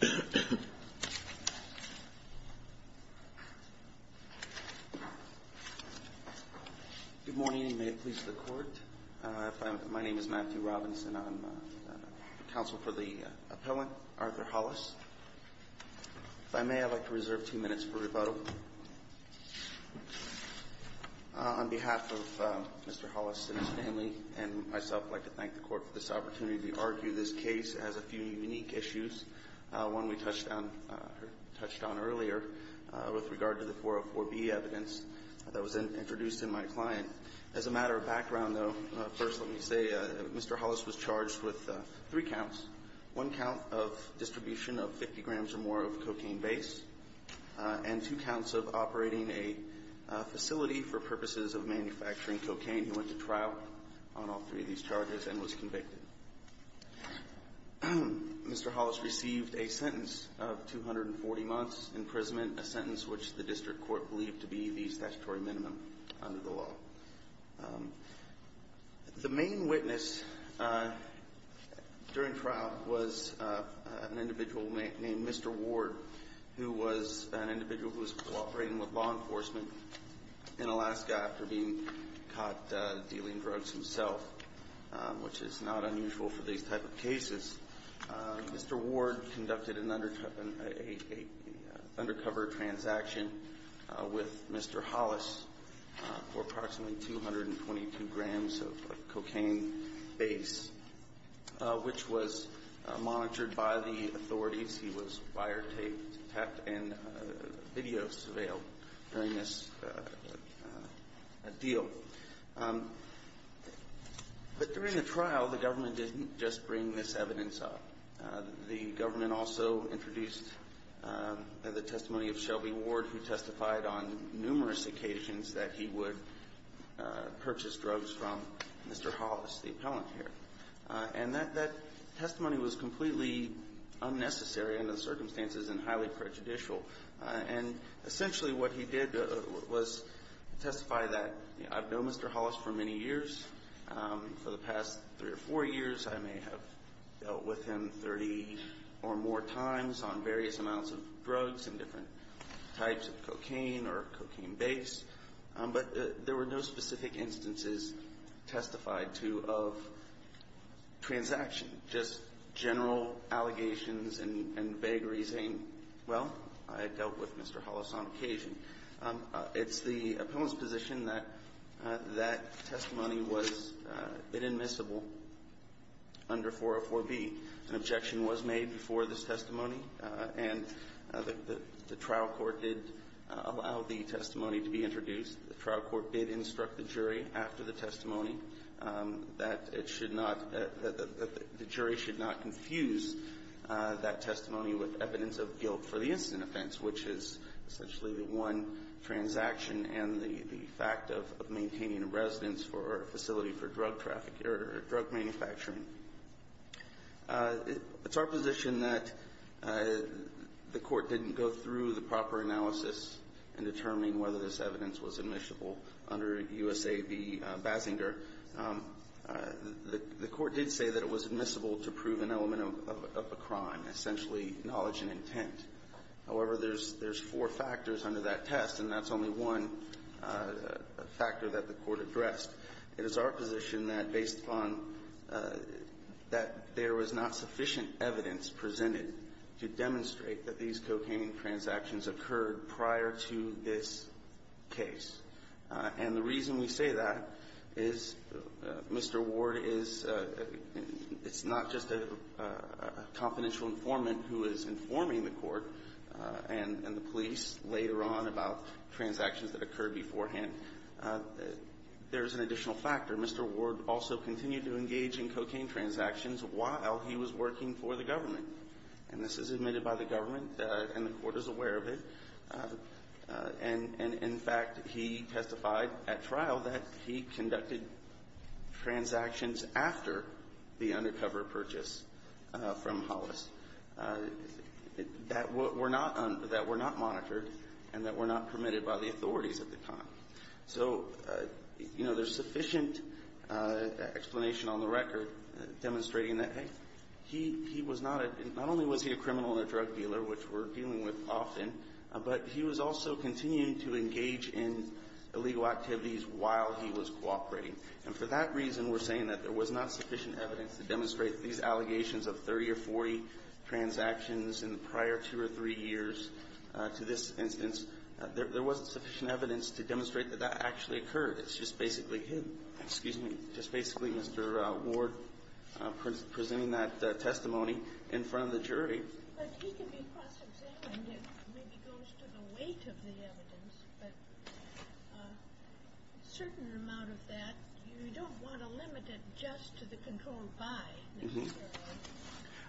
Good morning, and may it please the Court. My name is Matthew Robinson. I'm counsel for the appellant, Arthur Hollis. If I may, I'd like to reserve two minutes for rebuttal. On behalf of Mr. Hollis and his family and myself, I'd like to thank the Court for this opportunity to argue this case. It has a few unique issues. One we touched on earlier with regard to the 404B evidence that was introduced in my client. As a matter of background, though, first let me say Mr. Hollis was charged with three counts. One count of distribution of 50 grams or more of cocaine base, and two counts of operating a facility for purposes of manufacturing cocaine. He went to trial on all three of these charges and was convicted. Mr. Hollis received a sentence of 240 months imprisonment, a sentence which the District Court believed to be the statutory minimum under the law. The main witness during trial was an individual named Mr. Ward, who was an individual who was cooperating with law enforcement and being caught dealing drugs himself, which is not unusual for these type of cases. Mr. Ward conducted an undercover transaction with Mr. Hollis for approximately 222 grams of cocaine base, which was monitored by the authorities. He was wiretapped and video surveilled during this deal. But during the trial, the government didn't just bring this evidence up. The government also introduced the testimony of Shelby Ward, who testified on numerous occasions that he would purchase drugs from Mr. Hollis, the appellant here. And that testimony was completely unnecessary under the circumstances and highly prejudicial. And essentially what he did was testify that, you know, I've known Mr. Hollis for many years. For the past three or four years, I may have dealt with him 30 or more times on various amounts of drugs and different types of cocaine or cocaine base. But there were no specific instances testified to of transaction, just general allegations and vagaries saying, well, I dealt with Mr. Hollis on occasion. It's the appellant's position that that testimony was inadmissible under 404B. An objection was made before this testimony, and the trial court did allow the testimony to be introduced. The trial court did instruct the jury after the testimony that it should not the jury should not confuse that testimony with evidence of guilt for the incident offense, which is essentially the one transaction and the fact of maintaining a residence for a facility for drug trafficking or drug manufacturing. It's our position that the court didn't go through the proper analysis in determining whether this evidence was admissible under USAB Basinger. The court did say that it was admissible to prove an element of a crime, essentially knowledge and intent. However, there's four factors under that test, and that's only one factor that the court addressed. It is our position that based upon that there was not sufficient evidence presented to demonstrate that these cocaine transactions occurred prior to this case. And the reason we say that is Mr. Ward is not just a confidential informant who is informing the court and the police later on about transactions that occurred beforehand. There's an additional factor. Mr. Ward also continued to engage in cocaine transactions while he was working for the government. And this is admitted by the government, and the court is aware of it. And in fact, he testified at trial that he conducted transactions after the undercover purchase from Hollis that were not monitored and that were not So, you know, there's sufficient explanation on the record demonstrating that, hey, he was not a — not only was he a criminal and a drug dealer, which we're dealing with often, but he was also continuing to engage in illegal activities while he was cooperating. And for that reason, we're saying that there was not sufficient evidence to demonstrate these allegations of 30 or 40 transactions in the prior two or three years to this instance. There wasn't sufficient evidence to demonstrate that that actually occurred. It's just basically hidden. Excuse me. Just basically Mr. Ward presenting that testimony in front of the jury. But he can be cross-examined if it maybe goes to the weight of the evidence. But a certain amount of that, you don't want to limit it just to the control by Mr. Ward.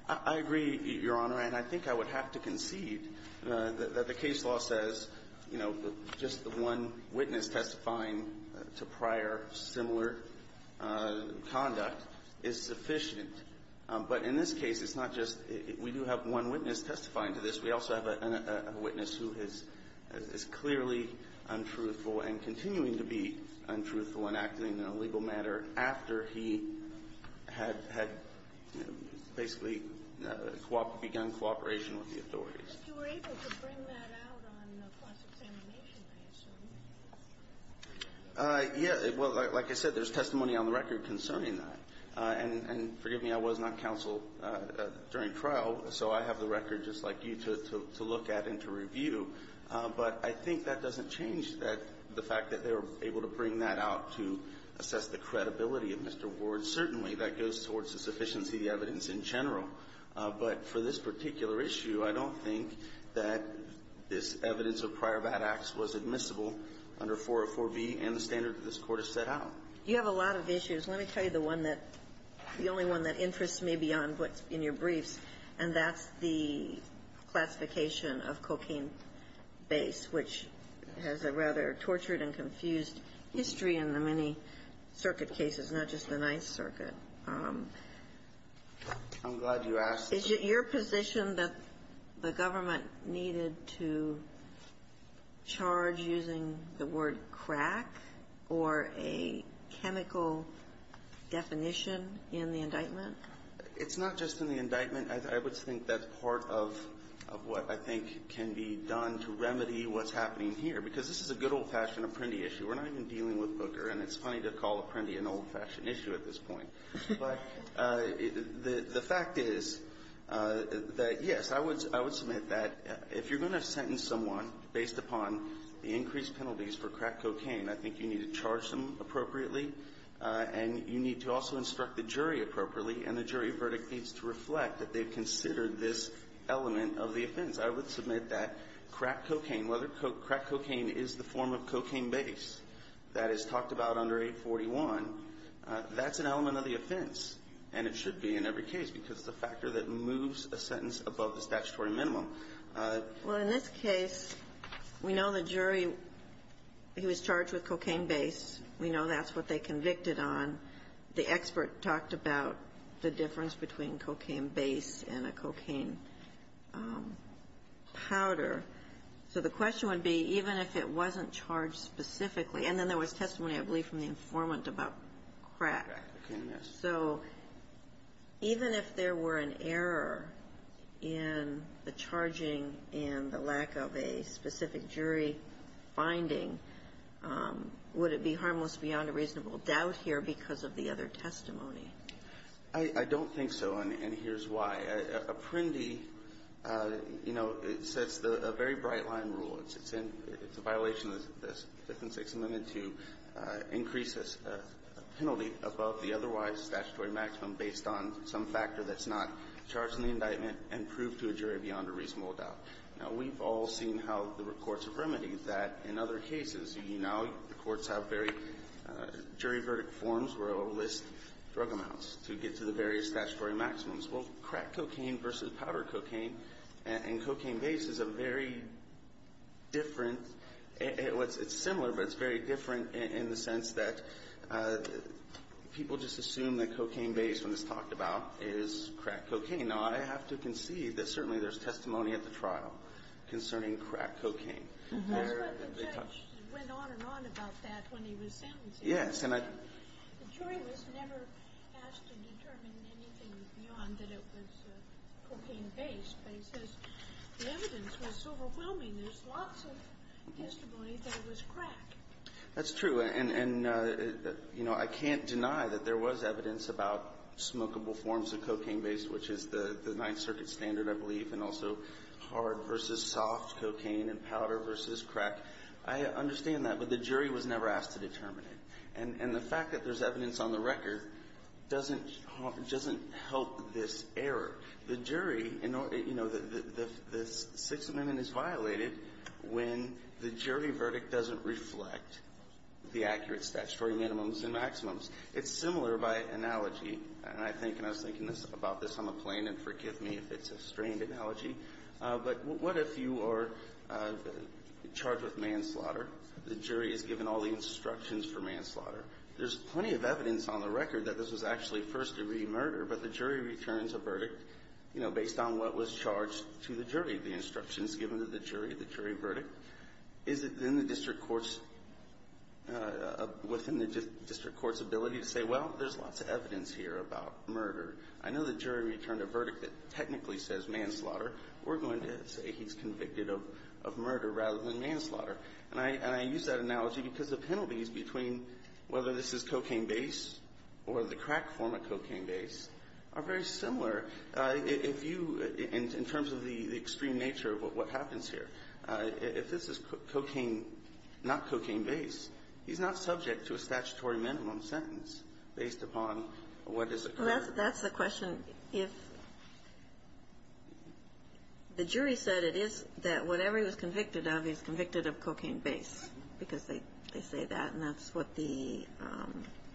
I agree, Your Honor. And I think I would have to concede that the case law says, you know, just the one witness testifying to prior similar conduct is sufficient. But in this case, it's not just — we do have one witness testifying to this. We also have a witness who is clearly untruthful and continuing to be untruthful and acting in a legal manner after he had basically begun cooperation with the authorities. But you were able to bring that out on cross-examination, I assume. Yeah. Well, like I said, there's testimony on the record concerning that. And forgive me, I was not counsel during trial, so I have the record just like you to look at and to review. But I think that doesn't change that — the fact that they were able to bring that out to assess the credibility of Mr. Ward. Certainly, that goes towards the sufficiency of the evidence in general. But for this particular issue, I don't think that this evidence of prior bad acts was admissible under 404b and the standard that this Court has set out. You have a lot of issues. Let me tell you the one that — the only one that interests me beyond what's in your base, which has a rather tortured and confused history in the many circuit cases, not just the Ninth Circuit. I'm glad you asked. Is it your position that the government needed to charge using the word crack or a chemical definition in the indictment? It's not just in the indictment. I would think that's part of what I think can be done to remedy what's happening here, because this is a good old-fashioned Apprendi issue. We're not even dealing with Booker, and it's funny to call Apprendi an old-fashioned issue at this point. But the fact is that, yes, I would — I would submit that if you're going to sentence someone based upon the increased penalties for crack cocaine, I think you need to charge them appropriately, and you need to also instruct the jury appropriately, and the jury verdict needs to reflect that they've considered this element of the offense. I would submit that crack cocaine, whether crack cocaine is the form of cocaine base that is talked about under 841, that's an element of the offense, and it should be in every case, because it's a factor that moves a sentence above the statutory minimum. Well, in this case, we know the jury, he was charged with cocaine base. We know that's what they convicted on. The expert talked about the difference between cocaine base and a cocaine powder. So the question would be, even if it wasn't charged specifically, and then there was testimony, I believe, from the informant about crack. So even if there were an error in the charging and the lack of a specific jury finding, would it be harmless beyond a reasonable doubt here because of the other testimony? I don't think so, and here's why. Apprendi, you know, sets a very bright-line rule. It's a violation of the Fifth and Sixth Amendment to increase a penalty above the otherwise statutory maximum based on some factor that's not charged in the indictment and prove to a jury beyond a reasonable doubt. Now, we've all seen how the courts have remedied that. In other cases, you know, courts have very jury-verdict forms where they'll list drug amounts to get to the various statutory maximums. Well, crack cocaine versus powder cocaine and cocaine base is a very different – it's similar, but it's very different in the sense that people just assume that cocaine base, when it's talked about, is crack cocaine. Now, I have to concede that certainly there's testimony at the trial concerning crack cocaine. That's why the judge went on and on about that when he was sentencing. Yes. And the jury was never asked to determine anything beyond that it was cocaine base, but he says the evidence was overwhelming. There's lots of testimony that it was crack. That's true. And, you know, I can't deny that there was evidence about smokable forms of cocaine base, which is the Ninth Circuit standard, I believe, and also hard versus soft cocaine and powder versus crack. I understand that, but the jury was never asked to determine it. And the fact that there's evidence on the record doesn't help this error. The jury – you know, the Sixth Amendment is violated when the jury verdict doesn't reflect the accurate statutory minimums and maximums. It's similar by analogy, and I think – and I was thinking about this on the plane, and forgive me if it's a strained analogy. But what if you are charged with manslaughter? The jury is given all the instructions for manslaughter. There's plenty of evidence on the record that this was actually first-degree murder, but the jury returns a verdict, you know, based on what was charged to the jury. The instruction is given to the jury, the jury verdict. Is it in the district court's – within the district court's ability to say, well, there's lots of evidence here about murder? I know the jury returned a verdict that technically says manslaughter. We're going to say he's convicted of murder rather than manslaughter. And I use that analogy because the penalties between whether this is cocaine base or the crack form of cocaine base are very similar. If you – in terms of the extreme nature of what happens here, if this is cocaine – not cocaine base, he's not subject to a statutory minimum sentence based upon what is a crack form. Well, that's the question. If the jury said it is – that whatever he was convicted of, he's convicted of cocaine base because they say that, and that's what the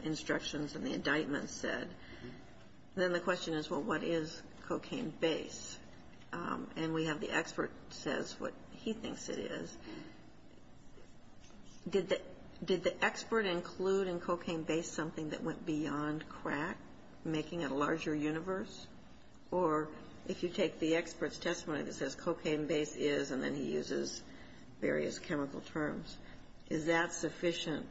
instructions and the indictments said. Then the question is, well, what is cocaine base? And we have the expert says what he thinks it is. Did the expert include in cocaine base something that went beyond crack, making it a larger universe? Or if you take the expert's testimony that says cocaine base is, and then he uses various chemical terms, is that sufficient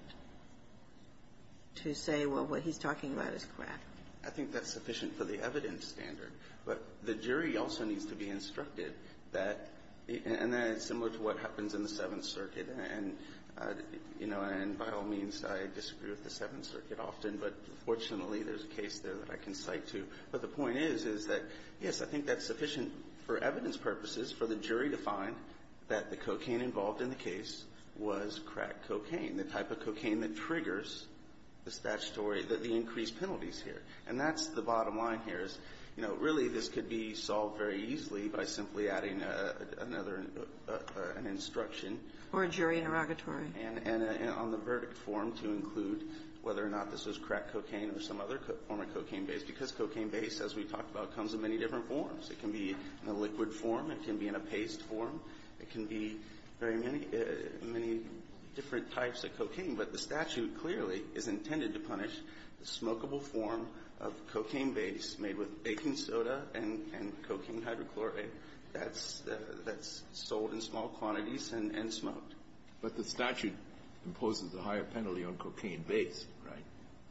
to say, well, what he's talking about is crack? I think that's sufficient for the evidence standard. But the jury also needs to be instructed that – and that is similar to what happens in the Seventh Circuit. And, you know, and by all means, I disagree with the Seventh Circuit often, but fortunately, there's a case there that I can cite to. But the point is, is that, yes, I think that's sufficient for evidence purposes for the jury to find that the cocaine involved in the case was crack cocaine, the type of cocaine that triggers the statutory, the increased penalties here. And that's the bottom line here is, you know, really, this could be solved very easily by simply adding another, an instruction. Or a jury interrogatory. And on the verdict form to include whether or not this was crack cocaine or some other form of cocaine base, because cocaine base, as we talked about, comes in many different forms. It can be in a liquid form. It can be in a paste form. It can be very many different types of cocaine. But the statute clearly is intended to punish the smokeable form of cocaine base made with baking soda and cocaine hydrochloric that's sold in small quantities and smoked. But the statute imposes a higher penalty on cocaine base, right?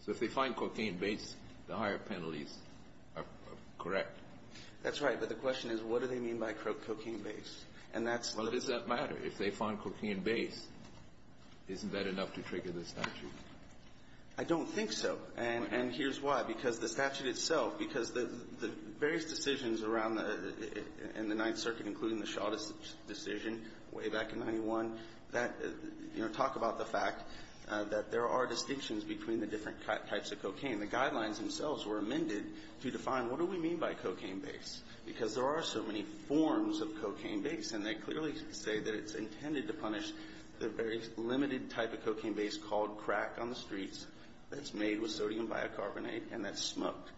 So if they find cocaine base, the higher penalties are correct. That's right. But the question is, what do they mean by cocaine base? Well, does that matter? If they find cocaine base, isn't that enough to trigger the statute? I don't think so. And here's why. Because the statute itself, because the various decisions around in the Ninth Circuit, including the shortest decision way back in 91, that, you know, talk about the fact that there are distinctions between the different types of cocaine. The guidelines themselves were amended to define, what do we mean by cocaine base? Because there are so many forms of cocaine base. And they clearly say that it's intended to punish the very limited type of cocaine base called crack on the streets that's made with sodium bicarbonate and that's smoked.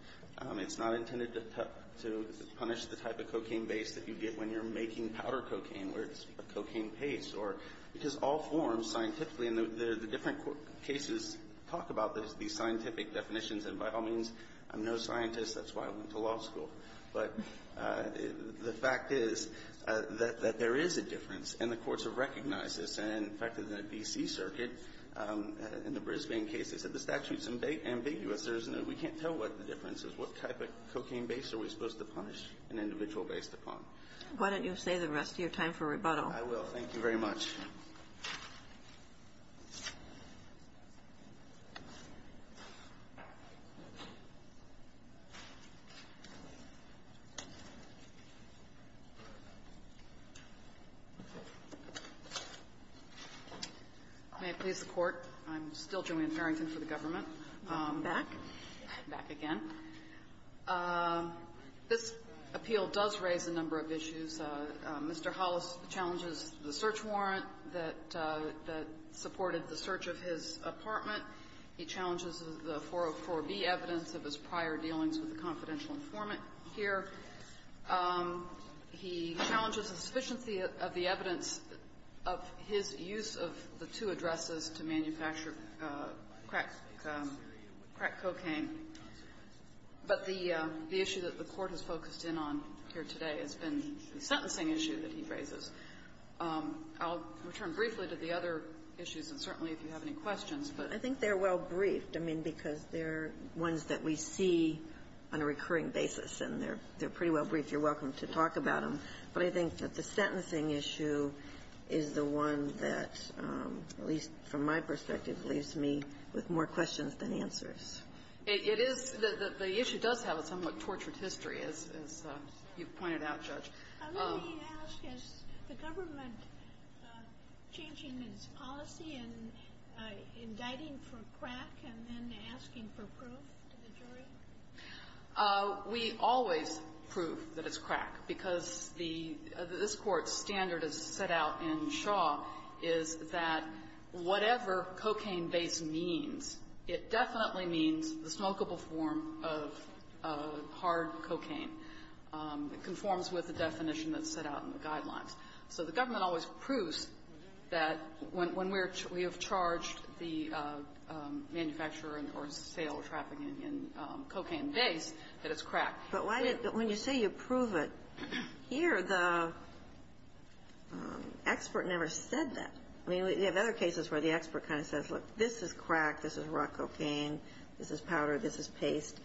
It's not intended to punish the type of cocaine base that you get when you're making powder cocaine where it's a cocaine paste. Because all forms scientifically, and the different cases talk about these scientific definitions. And by all means, I'm no scientist. That's why I went to law school. But the fact is that there is a difference. And the courts have recognized this. And in fact, in the D.C. Circuit, in the Brisbane case, they said the statute is ambiguous. We can't tell what the difference is. What type of cocaine base are we supposed to punish an individual based upon? Why don't you save the rest of your time for rebuttal? I will. Thank you very much. May I please have the Court? I'm still Joanne Farrington for the government. Back. Back again. This appeal does raise a number of issues. Mr. Hollis challenges the search warrant that supported the search of his apartment. He challenges the 404B evidence of his prior dealings with the confidential informant here. He challenges the sufficiency of the evidence of his use of the two addresses to manufacture crack cocaine. But the issue that the Court has focused in on here today has been the sentencing issue that he raises. I'll return briefly to the other issues, and certainly if you have any questions. But I think they're well briefed. I mean, because they're ones that we see on a recurring basis. And they're pretty well briefed. You're welcome to talk about them. But I think that the sentencing issue is the one that, at least from my perspective, leaves me with more questions than answers. It is. The issue does have a somewhat tortured history, as you've pointed out, Judge. Let me ask, is the government changing its policy and indicting for crack and then asking for proof to the jury? We always prove that it's crack, because this Court's standard is set out in Shaw is that whatever cocaine-based means, it definitely means the smokable form of hard cocaine. It conforms with the definition that's set out in the guidelines. So the government always proves that when we have charged the manufacturer or sale or trafficking in cocaine-based, that it's crack. But when you say you prove it, here the expert never said that. I mean, we have other cases where the expert kind of says, look, this is crack. This is raw cocaine. This is powder. This is paste.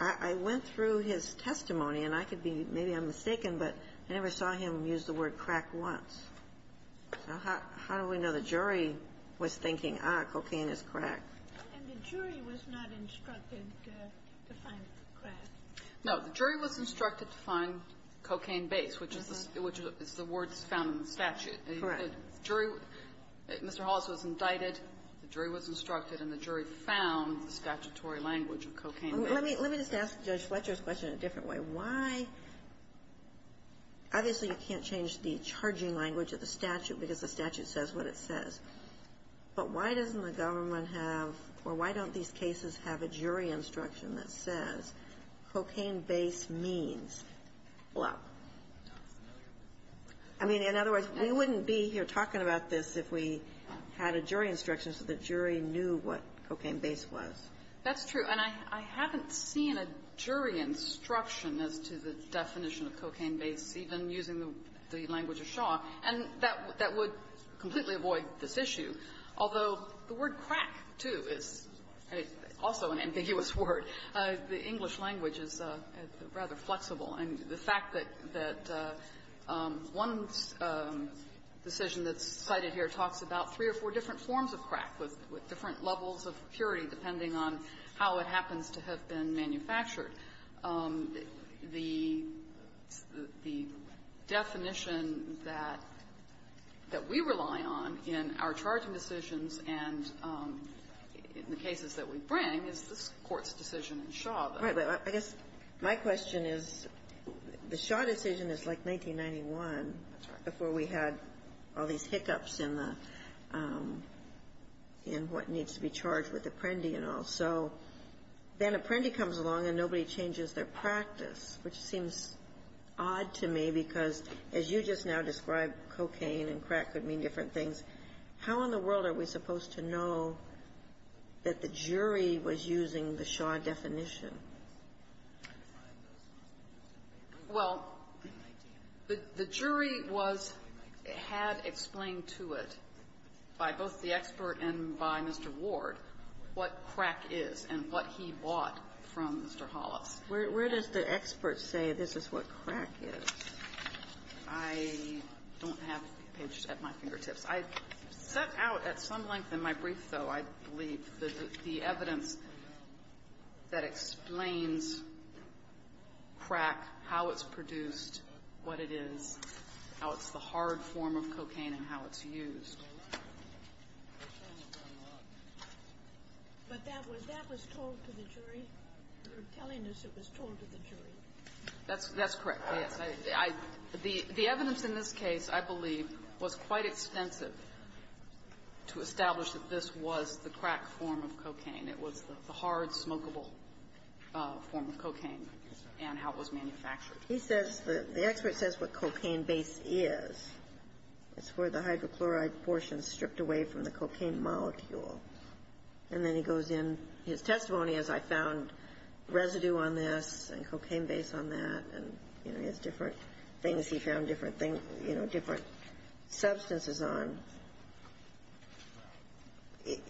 I went through his testimony, and I could be, maybe I'm mistaken, but I never saw him use the word crack once. So how do we know the jury was thinking, ah, cocaine is crack? And the jury was not instructed to find crack. No. The jury was instructed to find cocaine-based, which is the words found in the statute. Correct. The jury, Mr. Hollis was indicted. The jury was instructed, and the jury found the statutory language of cocaine-based. Let me just ask Judge Fletcher's question in a different way. Why? Obviously, you can't change the charging language of the statute because the statute says what it says. But why doesn't the government have, or why don't these cases have a jury instruction that says cocaine-based means? Well, I mean, in other words, we wouldn't be here talking about this if we had a jury instruction so the jury knew what cocaine-based was. That's true. And I haven't seen a jury instruction as to the definition of cocaine-based, even using the language of Shaw. And that would completely avoid this issue. Although the word crack, too, is also an ambiguous word. The English language is rather flexible. And the fact that one decision that's cited here talks about three or four different forms of crack with different levels of purity, depending on how it happens to have been manufactured. The definition that we rely on in our charging decisions and in the cases that we bring is this Court's decision in Shaw. Right. But I guess my question is, the Shaw decision is like 1991 before we had all these hiccups in the – in what needs to be charged with Apprendi and all. So then Apprendi comes along and nobody changes their practice, which seems odd to me because, as you just now described, cocaine and crack could mean different things. How in the world are we supposed to know that the jury was using the Shaw definition? Well, the jury was – had explained to it by both the expert and by Mr. Ward what crack is and what he bought from Mr. Hollis. Where does the expert say this is what crack is? I don't have the page at my fingertips. I've set out at some length in my brief, though, I believe, the evidence that explains crack, how it's produced, what it is, how it's the hard form of cocaine and how it's used. But that was – that was told to the jury. You're telling us it was told to the jury. That's correct, yes. I – the evidence in this case, I believe, was quite extensive to establish that this was the crack form of cocaine. It was the hard, smokable form of cocaine and how it was manufactured. He says – the expert says what cocaine base is. It's where the hydrochloride portion is stripped away from the cocaine molecule. And then he goes in. His testimony is, I found residue on this and cocaine base on that, and, you know, he has different things he found different things – you know, different substances on.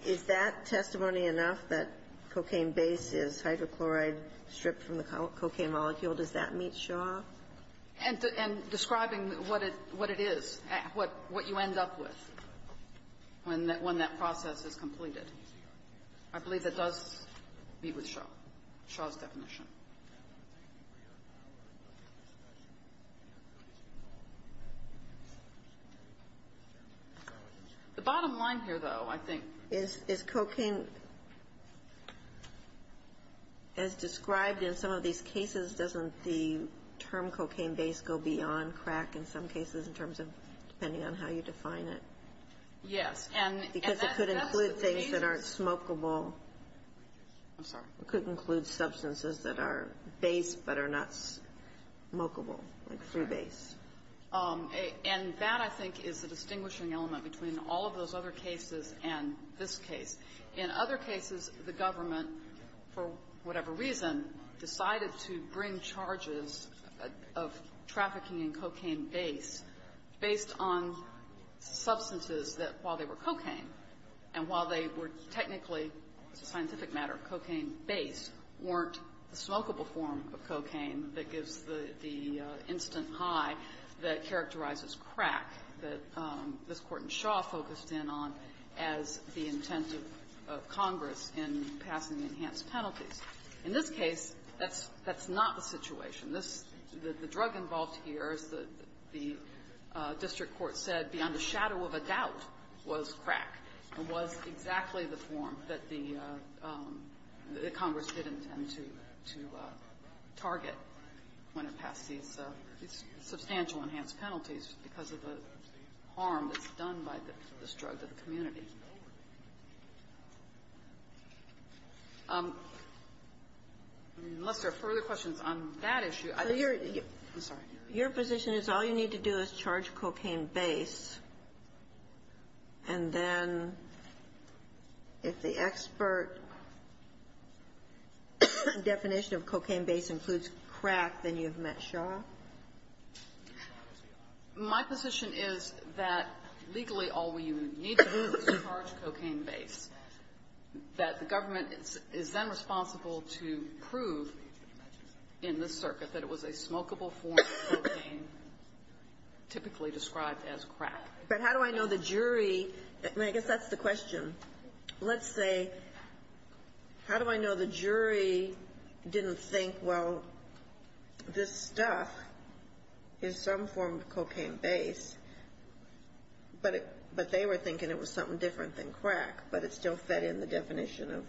Is that testimony enough that cocaine base is hydrochloride stripped from the cocaine molecule? Does that meet Shaw? And describing what it is, what you end up with when that process is completed. I believe that does meet with Shaw, Shaw's definition. The bottom line here, though, I think – Is cocaine – as described in some of these cases, doesn't the term cocaine base go beyond crack in some cases in terms of – depending on how you define it? Yes. Because it could include things that aren't smokable. I'm sorry. It could include substances that are base but are not smokable, like through base. And that, I think, is the distinguishing element between all of those other cases and this case. In other cases, the government, for whatever reason, decided to bring charges of trafficking in cocaine base based on substances that, while they were cocaine and while they were technically, as a scientific matter, cocaine base, weren't a smokable form of cocaine that gives the instant high that characterizes crack that this Court in Shaw focused in on as the intent of Congress in passing enhanced penalties. In this case, that's not the situation. The drug involved here, as the district court said, beyond a shadow of a doubt, was crack and was exactly the form that the – that Congress did intend to target when it passed these substantial enhanced penalties because of the harm that's done by this drug to the community. Unless there are further questions on that issue. I'm sorry. Your position is all you need to do is charge cocaine base, and then if the expert definition of cocaine base includes crack, then you've met Shaw? My position is that legally all we need to do is charge cocaine base, that the government is then responsible to prove in this circuit that it was a smokable form of cocaine typically described as crack. But how do I know the jury – I mean, I guess that's the question. Let's say, how do I know the jury didn't think, well, this stuff is some form of cocaine base, but they were thinking it was something different than crack, but it still fed in the definition of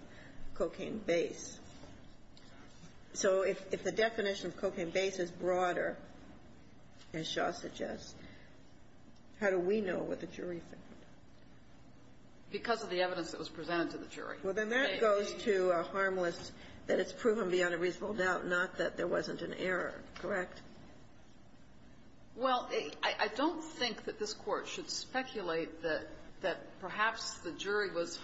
cocaine base. So if the definition of cocaine base is broader, as Shaw suggests, how do we know what the jury thought? Because of the evidence that was presented to the jury. Well, then that goes to a harmless – that it's proven beyond a reasonable doubt, not that there wasn't an error. Correct? Well, I don't think that this Court should speculate that perhaps the jury was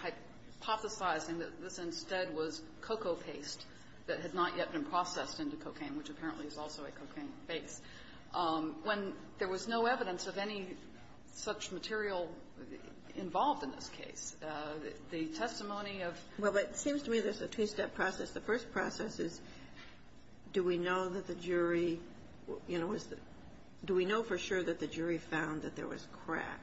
hypothesizing that this instead was cocoa paste that had not yet been processed into cocaine, which apparently is also a cocaine base, when there was no evidence of any such material involved in this case. The testimony of – Well, but it seems to me there's a two-step process. The first process is, do we know that the jury, you know, was the – do we know for sure that the jury found that there was crack?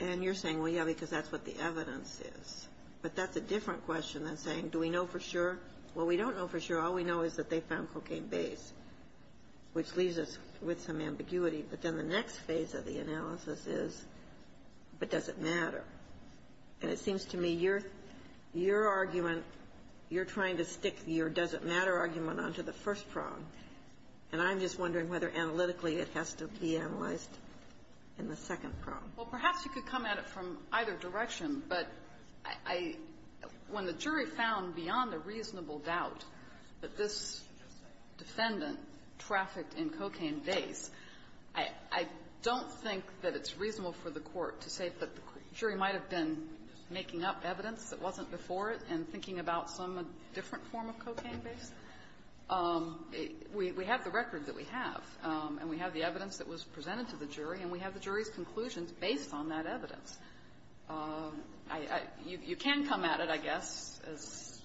And you're saying, well, yeah, because that's what the evidence is. But that's a different question than saying, do we know for sure? Well, we don't know for sure. All we know is that they found cocaine base, which leaves us with some ambiguity. But then the next phase of the analysis is, but does it matter? And it seems to me your – your argument, you're trying to stick your does-it-matter argument onto the first prong, and I'm just wondering whether analytically it has to be analyzed in the second prong. Well, perhaps you could come at it from either direction, but I – when the jury found beyond a reasonable doubt that this defendant trafficked in cocaine base, I don't think that it's reasonable for the Court to say that the jury might have been making up evidence that wasn't before it and thinking about some different form of cocaine base. We have the record that we have, and we have the evidence that was presented to the jury, and we have the jury's conclusions based on that evidence. I – you can come at it, I guess, as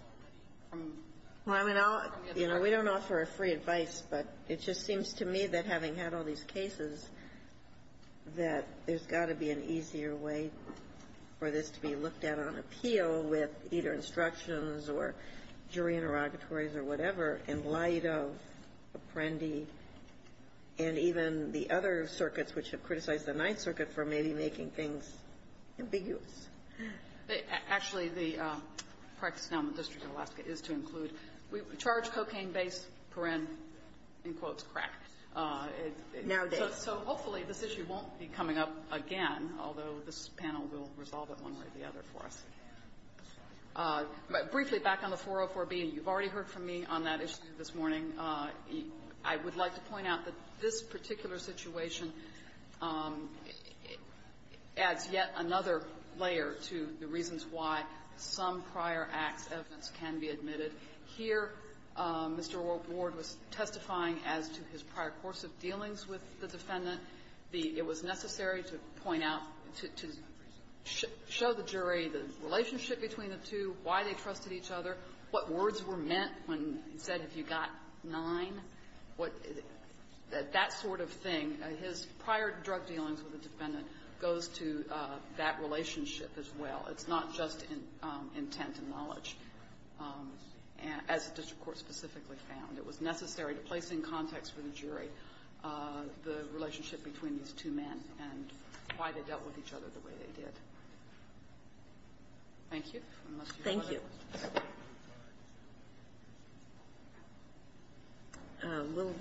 from the other side. Well, I mean, I'll – you know, we don't offer a free advice, but it just seems to me that having had all these cases, that there's got to be an easier way for this to be looked at on appeal with either instructions or jury interrogatories or whatever in light of Perendi and even the other circuits which have criticized the Ninth Circuit for maybe making things ambiguous. Actually, the practice now in the District of Alaska is to include – we charge cocaine base, Perendi, in quotes, crack. Nowadays. So hopefully this issue won't be coming up again, although this panel will resolve it one way or the other for us. Briefly, back on the 404B, you've already heard from me on that issue this morning. I would like to point out that this particular situation adds yet another layer to the reasons why some prior acts' evidence can be admitted. Here, Mr. Ward was testifying as to his prior course of dealings with the defendant. It was necessary to point out, to show the jury the relationship between the two, why they trusted each other, what words were meant when he said, have you got nine? What – that sort of thing, his prior drug dealings with the defendant goes to that relationship as well. It's not just intent and knowledge. As the district court specifically found, it was necessary to place in context for the jury the relationship between these two men and why they dealt with each other the way they did. Thank you. Thank you. We'll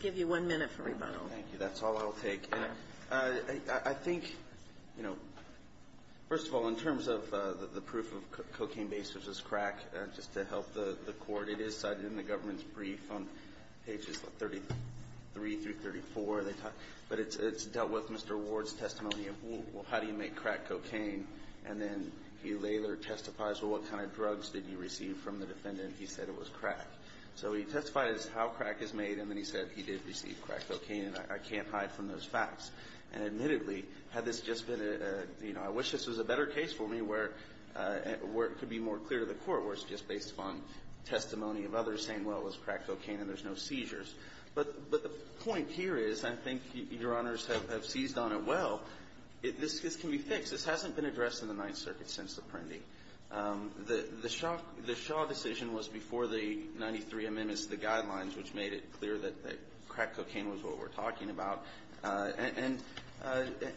give you one minute for rebuttal. Thank you. That's all I'll take. I think, you know, first of all, in terms of the proof of cocaine base versus 33-34, but it's dealt with Mr. Ward's testimony of, well, how do you make crack cocaine? And then he later testifies, well, what kind of drugs did you receive from the defendant? He said it was crack. So he testified as to how crack is made, and then he said he did receive crack cocaine, and I can't hide from those facts. And admittedly, had this just been a, you know, I wish this was a better case for me where it could be more clear to the court where it's just based upon testimony of others saying, well, it was crack cocaine and there's no seizures. But the point here is I think Your Honors have seized on it well. This can be fixed. This hasn't been addressed in the Ninth Circuit since Apprendi. The Shaw decision was before the 93 amendments to the guidelines, which made it clear that crack cocaine was what we're talking about. And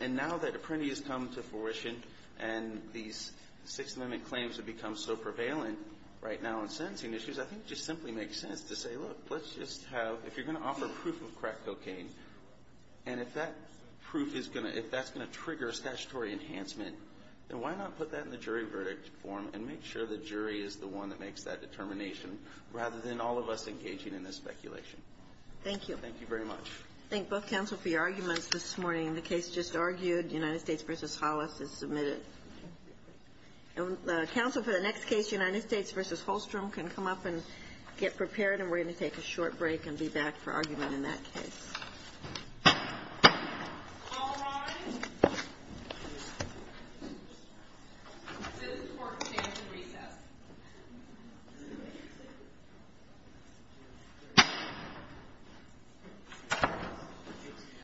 now that Apprendi has come to fruition and these Sixth Amendment claims have become so prevalent right now on sentencing issues, I think it just simply makes sense to say, look, let's just have – if you're going to offer proof of crack cocaine, and if that proof is going to – if that's going to trigger a statutory enhancement, then why not put that in the jury verdict form and make sure the jury is the one that makes that determination rather than all of us engaging in this speculation? Thank you. Thank you very much. Thank both counsel for your arguments this morning. The case just argued, United States v. Hollis is submitted. Counsel for the next case, United States v. Holstrom, can come up and get prepared and we're going to take a short break and be back for argument in that case.